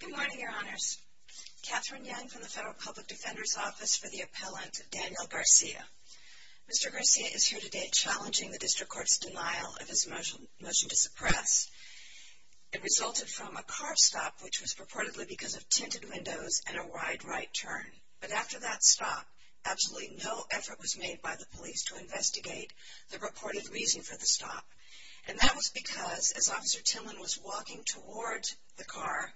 Good morning, Your Honors. Katherine Young from the Federal Public Defender's Office for the Appellant, Daniel Garcia. Mr. Garcia is here today challenging the District Court's denial of his motion to suppress. It resulted from a car stop, which was purportedly because of tinted windows and a wide right turn. But after that stop, absolutely no effort was made by the police to investigate the reported reason for the stop. And that was because, as Officer Timlin was walking toward the car,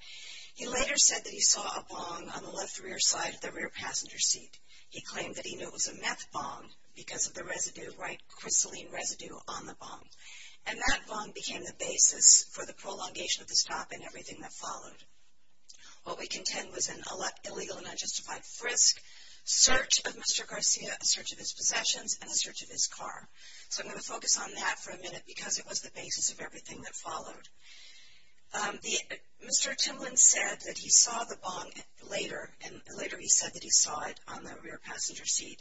he later said that he saw a bong on the left rear side of the rear passenger seat. He claimed that he knew it was a meth bong because of the residue, white crystalline residue on the bong. And that bong became the basis for the prolongation of the stop and everything that followed. What we contend was an illegal and unjustified frisk, search of Mr. Garcia, a search of his possessions, and a search of his car. So I'm going to focus on that for a minute because it was the basis of everything that followed. Mr. Timlin said that he saw the bong later, and later he said that he saw it on the rear passenger seat.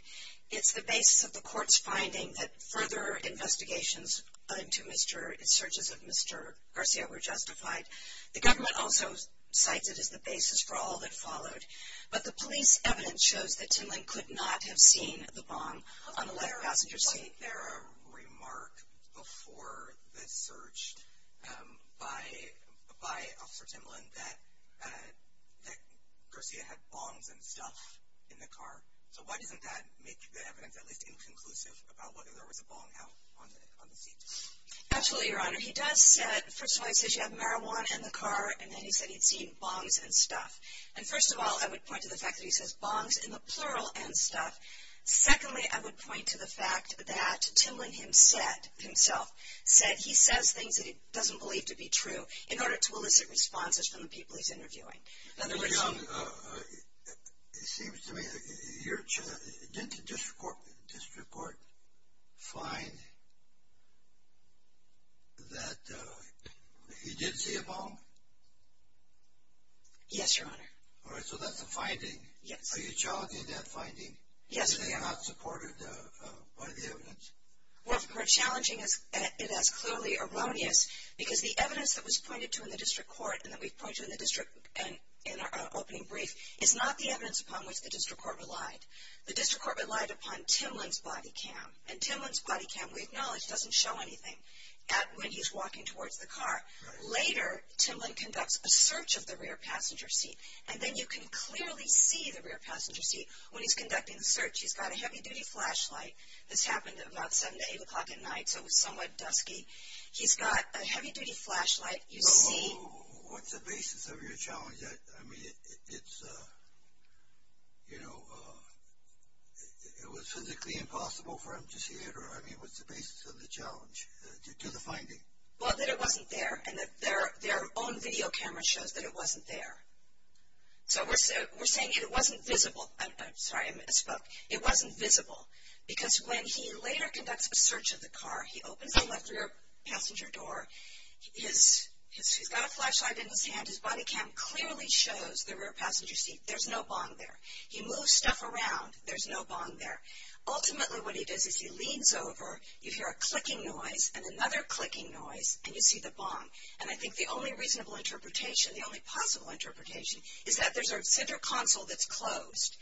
It's the basis of the court's finding that further investigations into searches of Mr. Garcia were justified. The government also cites it as the basis for all that followed. But the police evidence shows that Timlin could not have seen the bong on the left passenger seat. There was a remark before the search by Officer Timlin that Garcia had bongs and stuff in the car. So why doesn't that make the evidence at least inconclusive about whether there was a bong out on the seat? Absolutely, Your Honor. He does say, first of all, he says you have marijuana in the car, and then he said he'd seen bongs and stuff. And first of all, I would point to the fact that he says bongs in the plural and stuff. Secondly, I would point to the fact that Timlin himself said he says things that he doesn't believe to be true in order to elicit responses from the people he's interviewing. It seems to me, didn't the district court find that he did see a bong? Yes, Your Honor. All right, so that's a finding. Yes. Are you challenging that finding? Yes, Your Honor. Is it not supported by the evidence? Well, we're challenging it as clearly erroneous because the evidence that was pointed to in our opening brief is not the evidence upon which the district court relied. The district court relied upon Timlin's body cam, and Timlin's body cam, we acknowledge, doesn't show anything when he's walking towards the car. Later, Timlin conducts a search of the rear passenger seat, and then you can clearly see the rear passenger seat when he's conducting the search. He's got a heavy-duty flashlight. This happened about 7 to 8 o'clock at night, so it was somewhat dusky. He's got a heavy-duty flashlight. What's the basis of your challenge? I mean, it's, you know, it was physically impossible for him to see it? I mean, what's the basis of the challenge to the finding? Well, that it wasn't there, and their own video camera shows that it wasn't there. So we're saying it wasn't visible. I'm sorry, I misspoke. It wasn't visible because when he later conducts a search of the car, he opens the left rear passenger door. He's got a flashlight in his hand. His body cam clearly shows the rear passenger seat. There's no bong there. He moves stuff around. There's no bong there. Ultimately, what he does is he leans over. You hear a clicking noise and another clicking noise, and you see the bong. And I think the only reasonable interpretation, the only possible interpretation, is that there's a center console that's closed.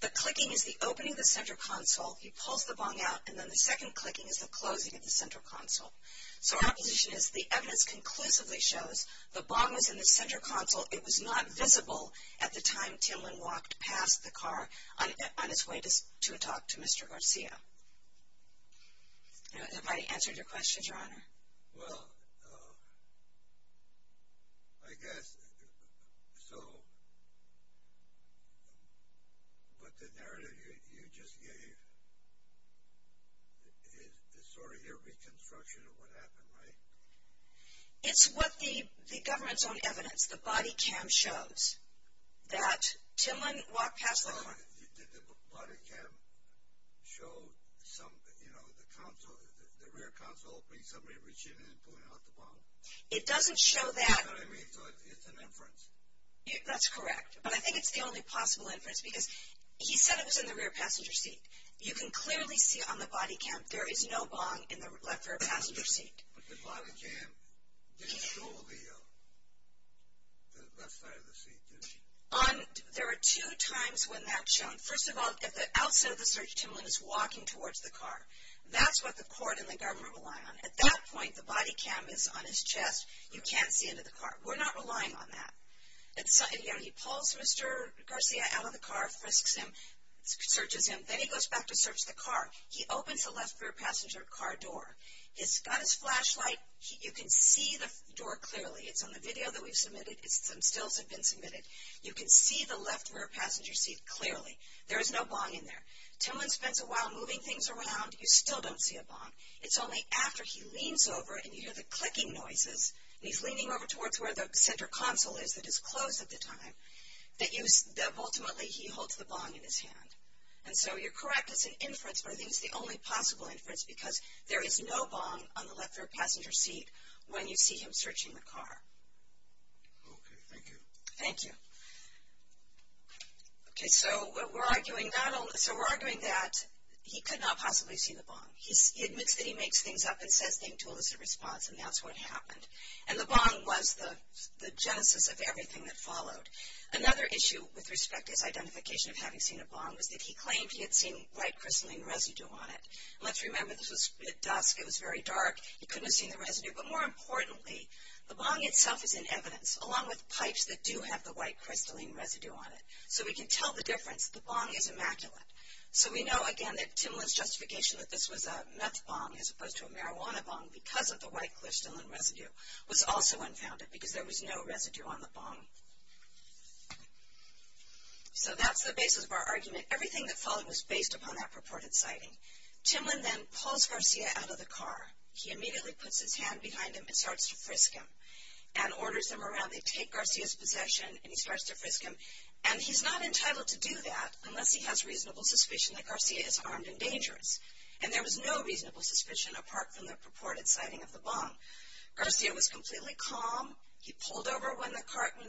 The clicking is the opening of the center console. He pulls the bong out, and then the second clicking is the closing of the center console. So our position is the evidence conclusively shows the bong was in the center console. It was not visible at the time Timlin walked past the car on his way to talk to Mr. Garcia. Has anybody answered your question, Your Honor? Well, I guess so. But the narrative you just gave is sort of your reconstruction of what happened, right? It's what the government's own evidence, the body cam, shows that Timlin walked past the car. Did the body cam show the rear console opening, somebody reaching in and pulling out the bong? It doesn't show that. You know what I mean? So it's an inference. That's correct. But I think it's the only possible inference because he said it was in the rear passenger seat. You can clearly see on the body cam there is no bong in the left rear passenger seat. But the body cam didn't show the left side of the seat, did it? There are two times when that's shown. First of all, at the outset of the search, Timlin is walking towards the car. That's what the court and the government rely on. At that point, the body cam is on his chest. You can't see into the car. We're not relying on that. He pulls Mr. Garcia out of the car, searches him, then he goes back to search the car. He opens the left rear passenger car door. He's got his flashlight. You can see the door clearly. It's on the video that we've submitted. Some stills have been submitted. You can see the left rear passenger seat clearly. There is no bong in there. Timlin spends a while moving things around. You still don't see a bong. It's only after he leans over and you hear the clicking noises, and he's leaning over towards where the center console is that is closed at the time, that ultimately he holds the bong in his hand. And so you're correct. It's an inference, but I think it's the only possible inference because there is no bong on the left rear passenger seat when you see him searching the car. Okay, thank you. Thank you. Okay, so we're arguing that he could not possibly see the bong. He admits that he makes things up and says things to elicit a response, and that's what happened. And the bong was the genesis of everything that followed. Another issue with respect to his identification of having seen a bong was that he claimed he had seen white crystalline residue on it. And let's remember this was at dusk. It was very dark. He couldn't have seen the residue. But more importantly, the bong itself is in evidence, along with pipes that do have the white crystalline residue on it. So we can tell the difference. The bong is immaculate. So we know, again, that Timlin's justification that this was a meth bong as opposed to a marijuana bong because of the white crystalline residue was also unfounded because there was no residue on the bong. So that's the basis of our argument. Everything that followed was based upon that purported sighting. Timlin then pulls Garcia out of the car. He immediately puts his hand behind him and starts to frisk him and orders them around. They take Garcia's possession, and he starts to frisk him. And he's not entitled to do that unless he has reasonable suspicion that Garcia is armed and dangerous. And there was no reasonable suspicion apart from the purported sighting of the bong. Garcia was completely calm. He pulled over when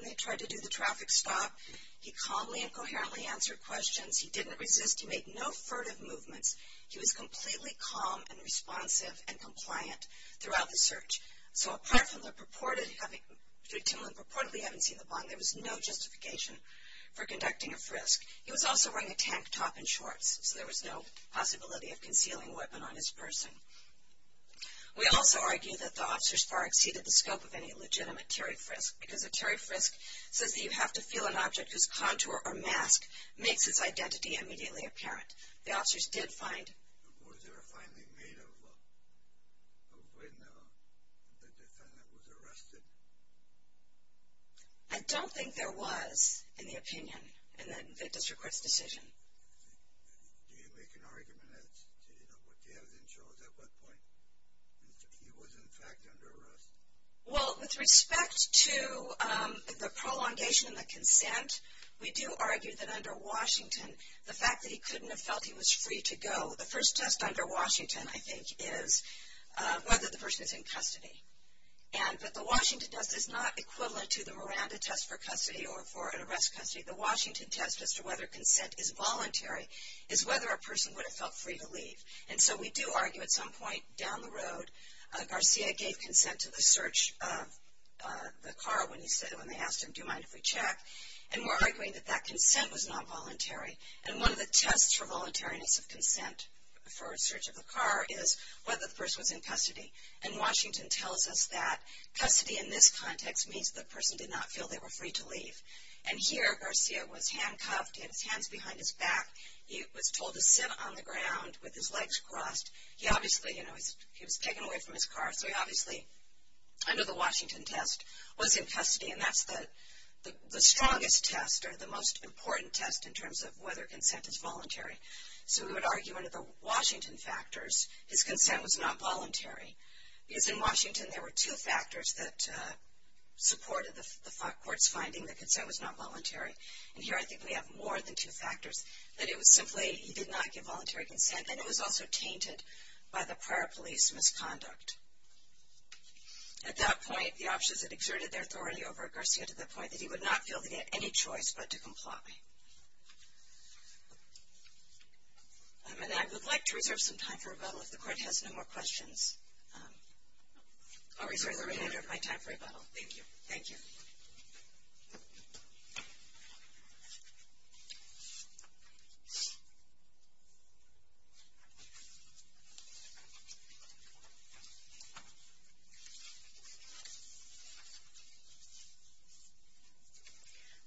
they tried to do the traffic stop. He calmly and coherently answered questions. He didn't resist. He made no furtive movements. He was completely calm and responsive and compliant throughout the search. So apart from Timlin purportedly having seen the bong, there was no justification for conducting a frisk. He was also wearing a tank top and shorts, so there was no possibility of concealing weapon on his person. We also argue that the officers far exceeded the scope of any legitimate Terry frisk because a Terry frisk says that you have to feel an object whose contour or mask makes its identity immediately apparent. The officers did find— Was there a finding made of when the defendant was arrested? I don't think there was, in the opinion, in the district court's decision. Do you make an argument as to what you have as insurance at what point? He was, in fact, under arrest. Well, with respect to the prolongation and the consent, we do argue that under Washington, the fact that he couldn't have felt he was free to go, the first test under Washington, I think, is whether the person is in custody. But the Washington test is not equivalent to the Miranda test for custody or for an arrest custody. The Washington test as to whether consent is voluntary is whether a person would have felt free to leave. And so we do argue at some point down the road, Garcia gave consent to the search of the car when they asked him, do you mind if we check? And we're arguing that that consent was not voluntary. And one of the tests for voluntariness of consent for a search of the car is whether the person was in custody. And Washington tells us that custody in this context means the person did not feel they were free to leave. And here, Garcia was handcuffed. He had his hands behind his back. He was told to sit on the ground with his legs crossed. He obviously, you know, he was taken away from his car. So he obviously, under the Washington test, was in custody. And that's the strongest test or the most important test in terms of whether consent is voluntary. So we would argue under the Washington factors, his consent was not voluntary. Because in Washington, there were two factors that supported the court's finding that consent was not voluntary. And here I think we have more than two factors, that it was simply he did not give voluntary consent and it was also tainted by the prior police misconduct. At that point, the options had exerted their authority over Garcia to the point that he would not feel he had any choice but to comply. And I would like to reserve some time for rebuttal if the court has no more questions. I'll reserve the remainder of my time for rebuttal. Thank you. Thank you.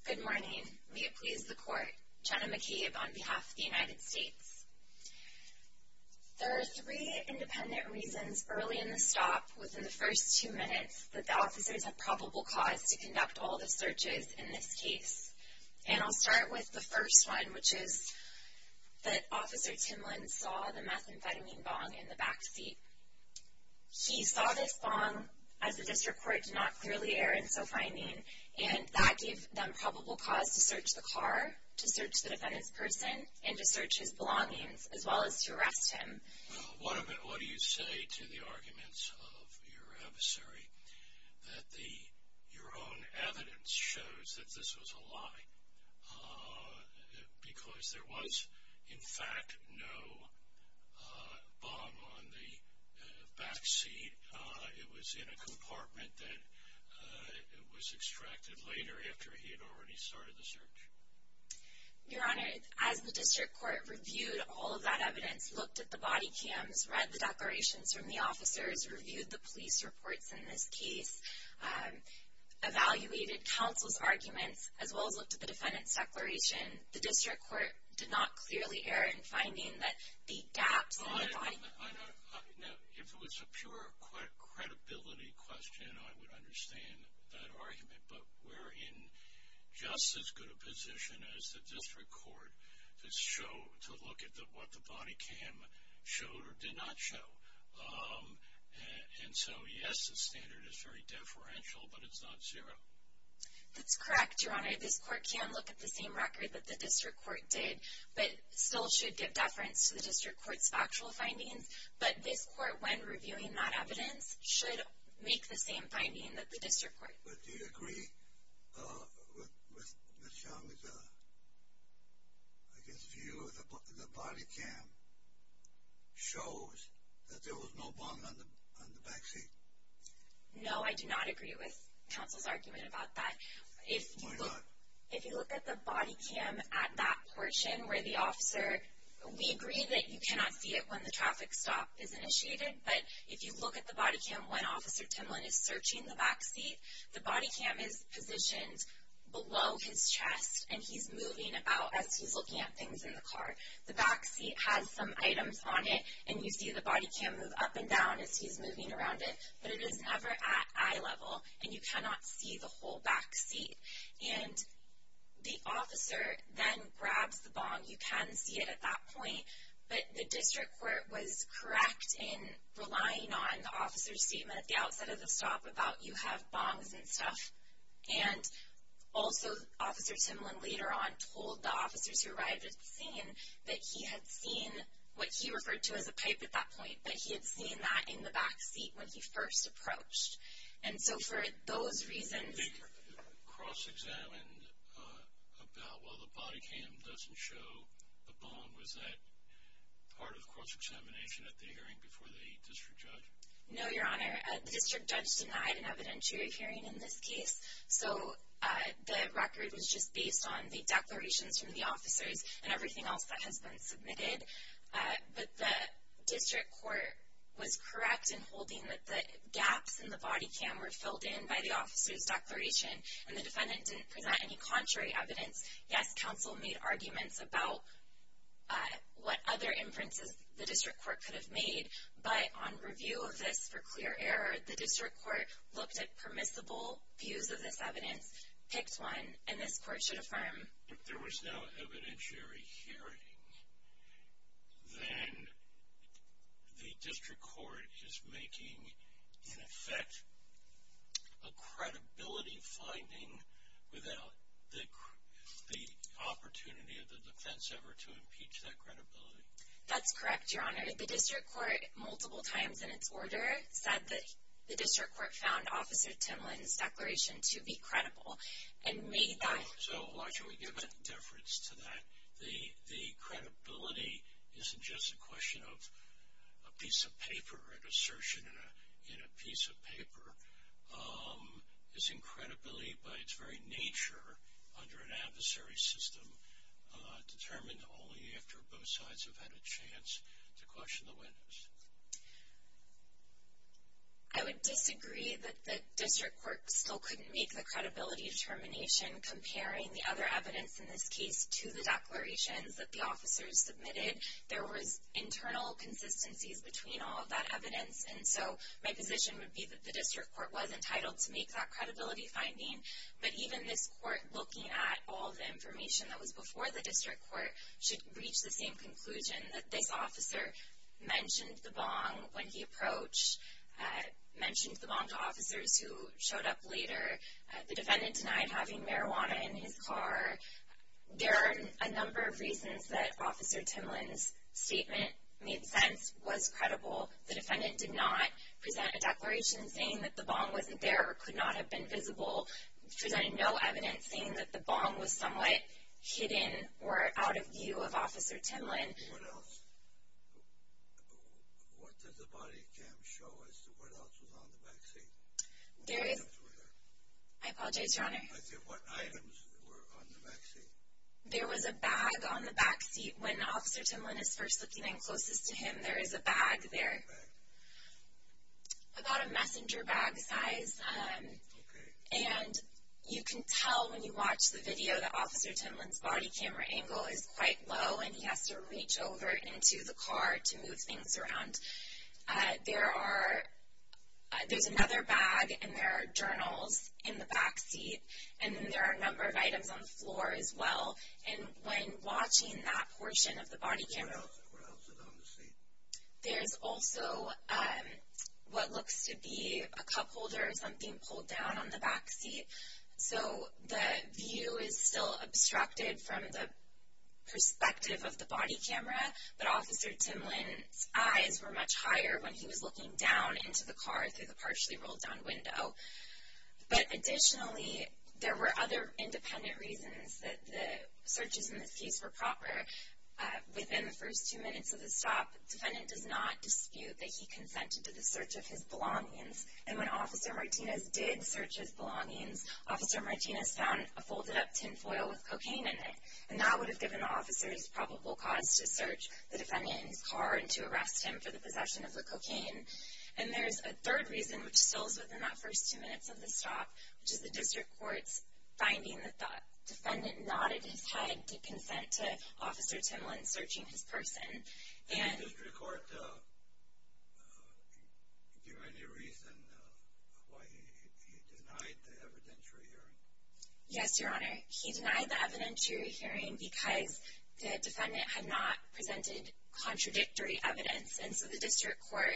Good morning. May it please the court. Jenna McCabe on behalf of the United States. There are three independent reasons early in the stop, within the first two minutes, that the officers have probable cause to conduct all the searches in this case. And I'll start with the first one, which is that Officer Timlin saw the methamphetamine bong in the backseat. He saw this bong, as the district court did not clearly err in so finding, and that gave them probable cause to search the car, to search the defendant's person, and to search his belongings, as well as to arrest him. What do you say to the arguments of your adversary that your own evidence shows that this was a lie? Because there was, in fact, no bong on the backseat. It was in a compartment that was extracted later after he had already started the search. Your Honor, as the district court reviewed all of that evidence, looked at the body cams, read the declarations from the officers, reviewed the police reports in this case, evaluated counsel's arguments, as well as looked at the defendant's declaration, the district court did not clearly err in finding that the gaps in the body cams. Now, if it was a pure credibility question, I would understand that argument, but we're in just as good a position as the district court to show, to look at what the body cam showed or did not show. And so, yes, the standard is very deferential, but it's not zero. That's correct, Your Honor. This court can look at the same record that the district court did, but still should give deference to the district court's factual findings. But this court, when reviewing that evidence, should make the same finding that the district court. But do you agree with Ms. Young's, I guess, view that the body cam shows that there was no bong on the backseat? No, I do not agree with counsel's argument about that. Why not? Well, if you look at the body cam at that portion where the officer, we agree that you cannot see it when the traffic stop is initiated, but if you look at the body cam when Officer Timlin is searching the backseat, the body cam is positioned below his chest, and he's moving about as he's looking at things in the car. The backseat has some items on it, and you see the body cam move up and down as he's moving around it, but it is never at eye level, and you cannot see the whole backseat. And the officer then grabs the bong. You can see it at that point, but the district court was correct in relying on the officer's statement at the outset of the stop about you have bongs and stuff. And also, Officer Timlin later on told the officers who arrived at the scene that he had seen what he referred to as a pipe at that point, but he had seen that in the backseat when he first approached. And so for those reasons... They cross-examined about, well, the body cam doesn't show a bong. Was that part of cross-examination at the hearing before the district judge? No, Your Honor. The district judge denied an evidentiary hearing in this case, so the record was just based on the declarations from the officers and everything else that has been submitted. But the district court was correct in holding that the gaps in the body cam were filled in by the officers' declaration, and the defendant didn't present any contrary evidence. Yes, counsel made arguments about what other inferences the district court could have made, but on review of this for clear error, the district court looked at permissible views of this evidence, picked one, and this court should affirm... If there was no evidentiary hearing, then the district court is making, in effect, a credibility finding without the opportunity of the defense ever to impeach that credibility. That's correct, Your Honor. The district court, multiple times in its order, said that the district court found Officer Timlin's declaration to be credible and made that... So why should we give any deference to that? The credibility isn't just a question of a piece of paper, an assertion in a piece of paper. It's in credibility by its very nature under an adversary system, determined only after both sides have had a chance to question the witness. I would disagree that the district court still couldn't make the credibility determination comparing the other evidence in this case to the declarations that the officers submitted. There was internal consistencies between all of that evidence, and so my position would be that the district court was entitled to make that credibility finding, but even this court, looking at all the information that was before the district court, should reach the same conclusion that this officer mentioned the bong when he approached, mentioned the bong to officers who showed up later, the defendant denied having marijuana in his car. There are a number of reasons that Officer Timlin's statement made sense, was credible. The defendant did not present a declaration saying that the bong wasn't there or could not have been visible, presented no evidence saying that the bong was somewhat hidden or out of view of Officer Timlin. What else? What does the body cam show as to what else was on the back seat? I apologize, Your Honor. I said what items were on the back seat. There was a bag on the back seat. When Officer Timlin is first looking in closest to him, there is a bag there. What bag? About a messenger bag size. Okay. And you can tell when you watch the video that Officer Timlin's body camera angle is quite low and he has to reach over into the car to move things around. There's another bag and there are journals in the back seat, and then there are a number of items on the floor as well. And when watching that portion of the body camera... What else is on the seat? There's also what looks to be a cup holder or something pulled down on the back seat. So the view is still obstructed from the perspective of the body camera, but Officer Timlin's eyes were much higher when he was looking down into the car through the partially rolled down window. But additionally, there were other independent reasons that the searches in this case were proper. Within the first two minutes of the stop, the defendant does not dispute that he consented to the search of his belongings. And when Officer Martinez did search his belongings, Officer Martinez found a folded up tin foil with cocaine in it, and that would have given officers probable cause to search the defendant in his car and to arrest him for the possession of the cocaine. And there's a third reason, which still is within that first two minutes of the stop, which is the district court's finding that the defendant nodded his head to consent to Officer Timlin searching his person. Did the district court give any reason why he denied the evidentiary hearing? Yes, Your Honor. He denied the evidentiary hearing because the defendant had not presented contradictory evidence. And so the district court,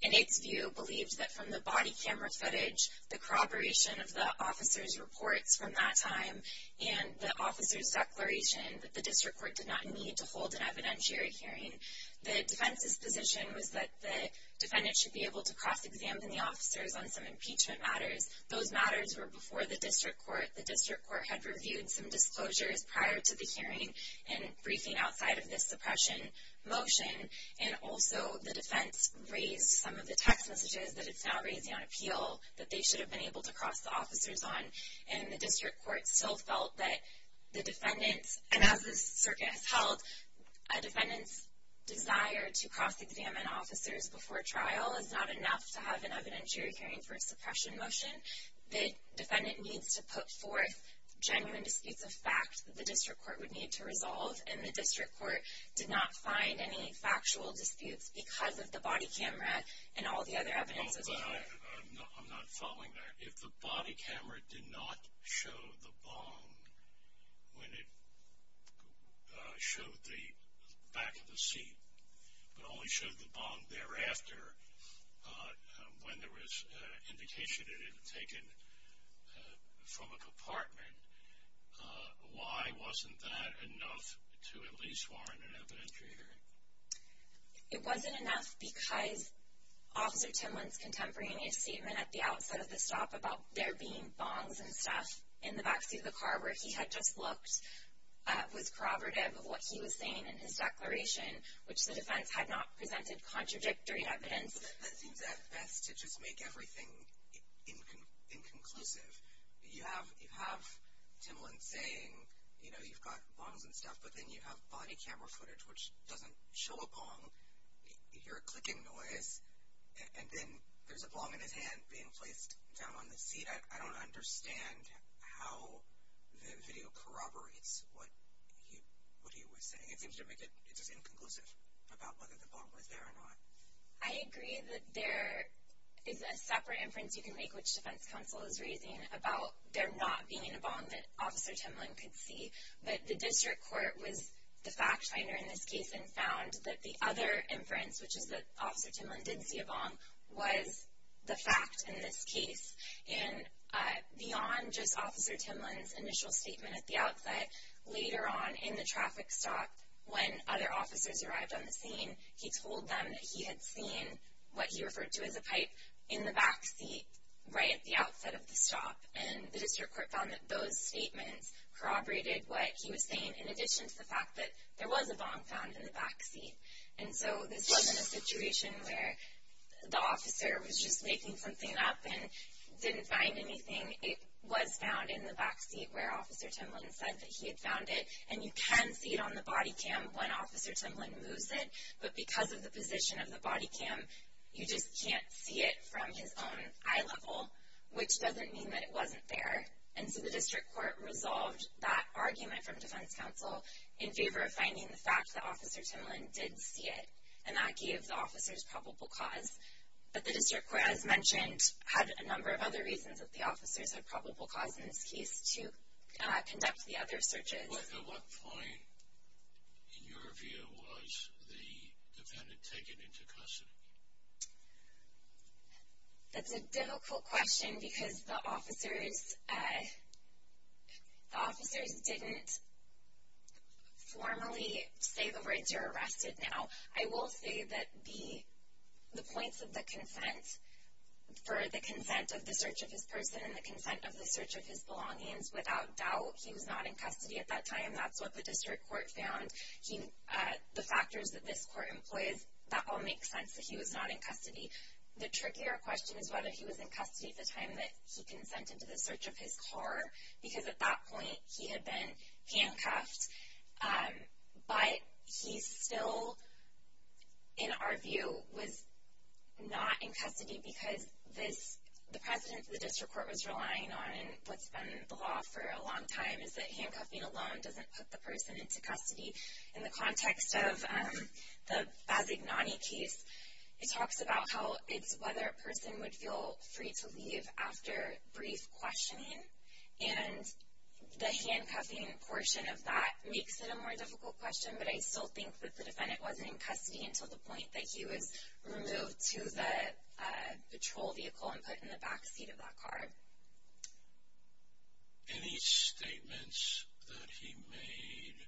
in its view, believed that from the body camera footage, the corroboration of the officer's reports from that time and the officer's declaration, that the district court did not need to hold an evidentiary hearing. The defense's position was that the defendant should be able to cross-examine the officers on some impeachment matters. Those matters were before the district court. The district court had reviewed some disclosures prior to the hearing and briefing outside of this suppression motion. And also, the defense raised some of the text messages that it's now raising on appeal that they should have been able to cross the officers on. And the district court still felt that the defendant's, and as this circuit has held, a defendant's desire to cross-examine officers before trial is not enough to have an evidentiary hearing for a suppression motion. The defendant needs to put forth genuine disputes of fact that the district court would need to resolve. And the district court did not find any factual disputes because of the body camera and all the other evidence of the court. I'm not following that. If the body camera did not show the bomb when it showed the back of the seat, but only showed the bomb thereafter when there was indication it had been taken from a compartment, why wasn't that enough to at least warrant an evidentiary hearing? It wasn't enough because Officer Timlin's contemporaneous statement at the outset of the stop about there being bombs and stuff in the back seat of the car where he had just looked was corroborative of what he was saying in his declaration, which the defense had not presented contradictory evidence. That seems at best to just make everything inconclusive. You have Timlin saying, you know, you've got bombs and stuff, but then you have body camera footage which doesn't show a bomb. You hear a clicking noise, and then there's a bomb in his hand being placed down on the seat. I don't understand how the video corroborates what he was saying. It seems to make it just inconclusive about whether the bomb was there or not. I agree that there is a separate inference you can make, which Defense Counsel is raising, about there not being a bomb that Officer Timlin could see, but the district court was the fact finder in this case and found that the other inference, which is that Officer Timlin did see a bomb, was the fact in this case. And beyond just Officer Timlin's initial statement at the outset, later on in the traffic stop when other officers arrived on the scene, he told them that he had seen what he referred to as a pipe in the backseat right at the outset of the stop. And the district court found that those statements corroborated what he was saying in addition to the fact that there was a bomb found in the backseat. And so this wasn't a situation where the officer was just making something up and didn't find anything. It was found in the backseat where Officer Timlin said that he had found it. And you can see it on the body cam when Officer Timlin moves it, but because of the position of the body cam, you just can't see it from his own eye level, which doesn't mean that it wasn't there. And so the district court resolved that argument from Defense Counsel in favor of finding the fact that Officer Timlin did see it, and that gave the officers probable cause. But the district court, as mentioned, had a number of other reasons that the officers had probable cause in this case to conduct the other searches. At what point, in your view, was the defendant taken into custody? That's a difficult question because the officers didn't formally say the words, I will say that the points of the consent for the consent of the search of his person and the consent of the search of his belongings, without doubt, he was not in custody at that time. That's what the district court found. The factors that this court employs, that all makes sense that he was not in custody. The trickier question is whether he was in custody at the time that he consented to the search of his car, because at that point he had been handcuffed, but he still, in our view, was not in custody because the precedent the district court was relying on, and what's been the law for a long time, is that handcuffing alone doesn't put the person into custody. In the context of the Bazignani case, it talks about how it's whether a person would feel free to leave after brief questioning, and the handcuffing portion of that makes it a more difficult question, but I still think that the defendant wasn't in custody until the point that he was removed to the patrol vehicle and put in the backseat of that car. Any statements that he made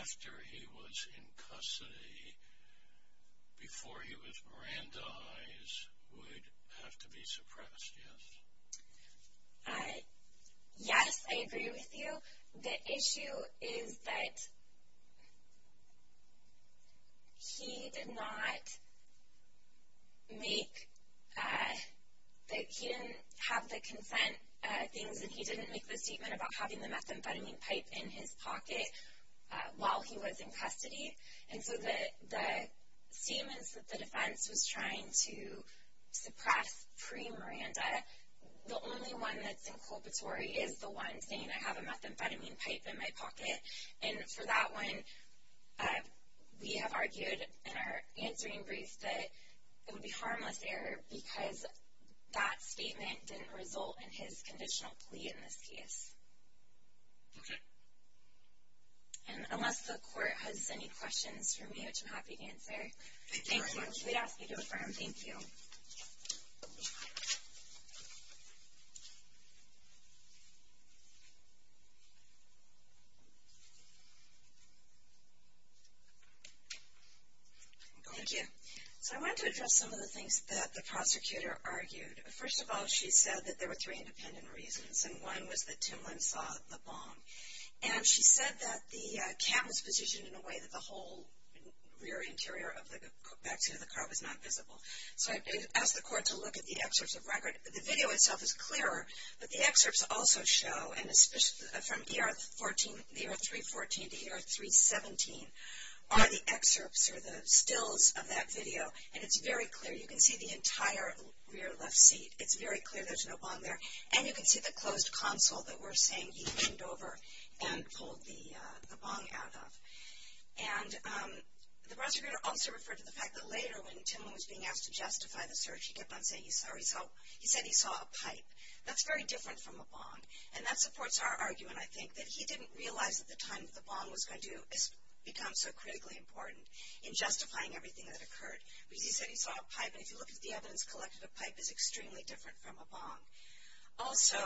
after he was in custody, before he was Mirandized, would have to be suppressed, yes? Yes, I agree with you. The issue is that he did not make, that he didn't have the consent things, and he didn't make the statement about having the methamphetamine pipe in his pocket while he was in custody, and so the statements that the defense was trying to suppress pre-Miranda, the only one that's inculpatory is the one saying, I have a methamphetamine pipe in my pocket, and for that one, we have argued in our answering brief that it would be harmless error because that statement didn't result in his conditional plea in this case. Okay. And unless the court has any questions for me, which I'm happy to answer. Thank you very much. We'd ask you to affirm. Thank you. Thank you. So I wanted to address some of the things that the prosecutor argued. First of all, she said that there were three independent reasons, and one was that Timlyn saw the bomb. And she said that the cam was positioned in a way that the whole rear interior of the back seat of the car was not visible. So I asked the court to look at the excerpts of record. The video itself is clearer, but the excerpts also show, and especially from ER 314 to ER 317, are the excerpts or the stills of that video, and it's very clear. You can see the entire rear left seat. It's very clear there's no bomb there. And you can see the closed console that we're saying he leaned over and pulled the bomb out of. And the prosecutor also referred to the fact that later, when Timlyn was being asked to justify the search, he kept on saying he saw a pipe. That's very different from a bomb, and that supports our argument, I think, that he didn't realize at the time that the bomb was going to become so critically important in justifying everything that occurred. Because he said he saw a pipe. And if you look at the evidence collected, a pipe is extremely different from a bomb. Also,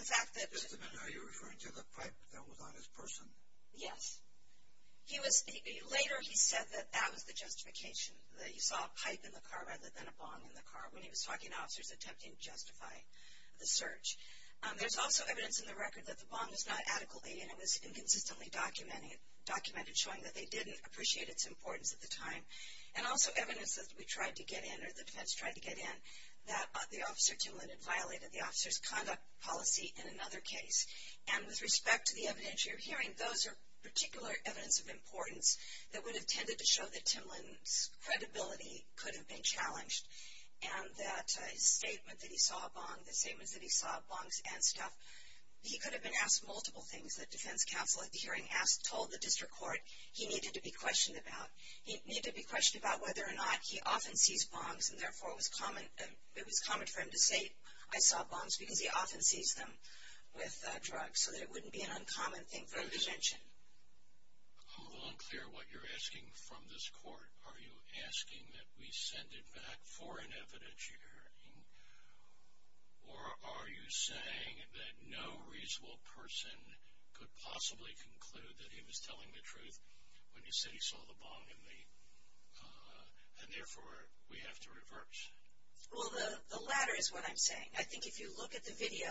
the fact that- Mr. Mendenhowe, you're referring to the pipe that was on his person. Yes. Later he said that that was the justification, that he saw a pipe in the car rather than a bomb in the car when he was talking to officers attempting to justify the search. There's also evidence in the record that the bomb was not adequately, and it was inconsistently documented, showing that they didn't appreciate its importance at the time. And also evidence that we tried to get in, or the defense tried to get in, that the officer, Timlyn, had violated the officer's conduct policy in another case. And with respect to the evidence you're hearing, those are particular evidence of importance that would have tended to show that Timlyn's credibility could have been challenged and that his statement that he saw a bomb, the statement that he saw bombs and stuff, he could have been asked multiple things that defense counsel at the hearing asked, told the district court he needed to be questioned about. He needed to be questioned about whether or not he often sees bombs, and therefore it was common for him to say, I saw bombs, because he often sees them with drugs, so that it wouldn't be an uncommon thing for him to mention. I'm a little unclear what you're asking from this court. Are you asking that we send it back for an evidence you're hearing, or are you saying that no reasonable person could possibly conclude that he was telling the truth when he said he saw the bomb, and therefore we have to revert? Well, the latter is what I'm saying. I think if you look at the video,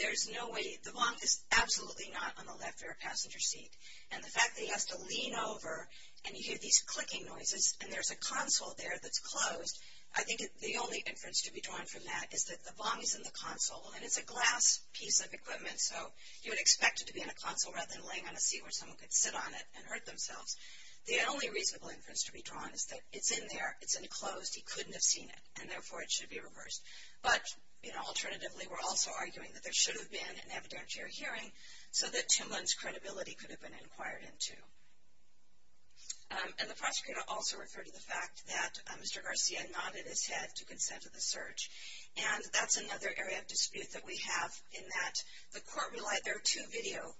there's no way, the bomb is absolutely not on the left rear passenger seat, and the fact that he has to lean over and you hear these clicking noises, and there's a console there that's closed, I think the only inference to be drawn from that is that the bomb is in the console, and it's a glass piece of equipment, so you would expect it to be in a console rather than laying on a seat where someone could sit on it and hurt themselves. The only reasonable inference to be drawn is that it's in there, it's enclosed, he couldn't have seen it, and therefore it should be reversed. But alternatively, we're also arguing that there should have been an evidence you're hearing so that Timlin's credibility could have been inquired into. And the prosecutor also referred to the fact that Mr. Garcia nodded his head to consent to the search, and that's another area of dispute that we have in that the court relied, there are two video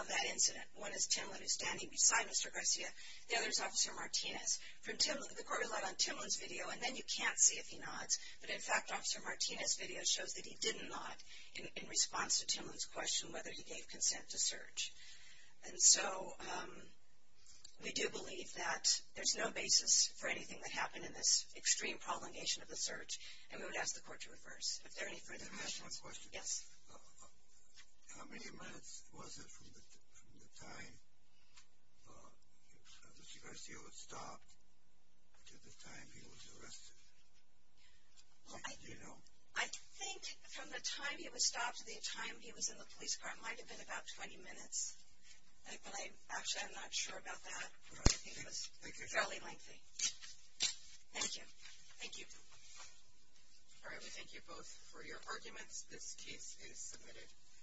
of that incident. One is Timlin who's standing beside Mr. Garcia, the other is Officer Martinez. From Timlin, the court relied on Timlin's video, and then you can't see if he nods, but in fact Officer Martinez' video shows that he didn't nod in response to Timlin's question whether he gave consent to search. And so we do believe that there's no basis for anything that happened in this extreme prolongation of the search, and we would ask the court to reverse. Are there any further questions? Yes. How many minutes was it from the time Mr. Garcia was stopped to the time he was arrested? Do you know? I think from the time he was stopped to the time he was in the police car it might have been about 20 minutes. Actually, I'm not sure about that. I think it was fairly lengthy. Thank you. Thank you. All right, we thank you both for your arguments. This case is submitted.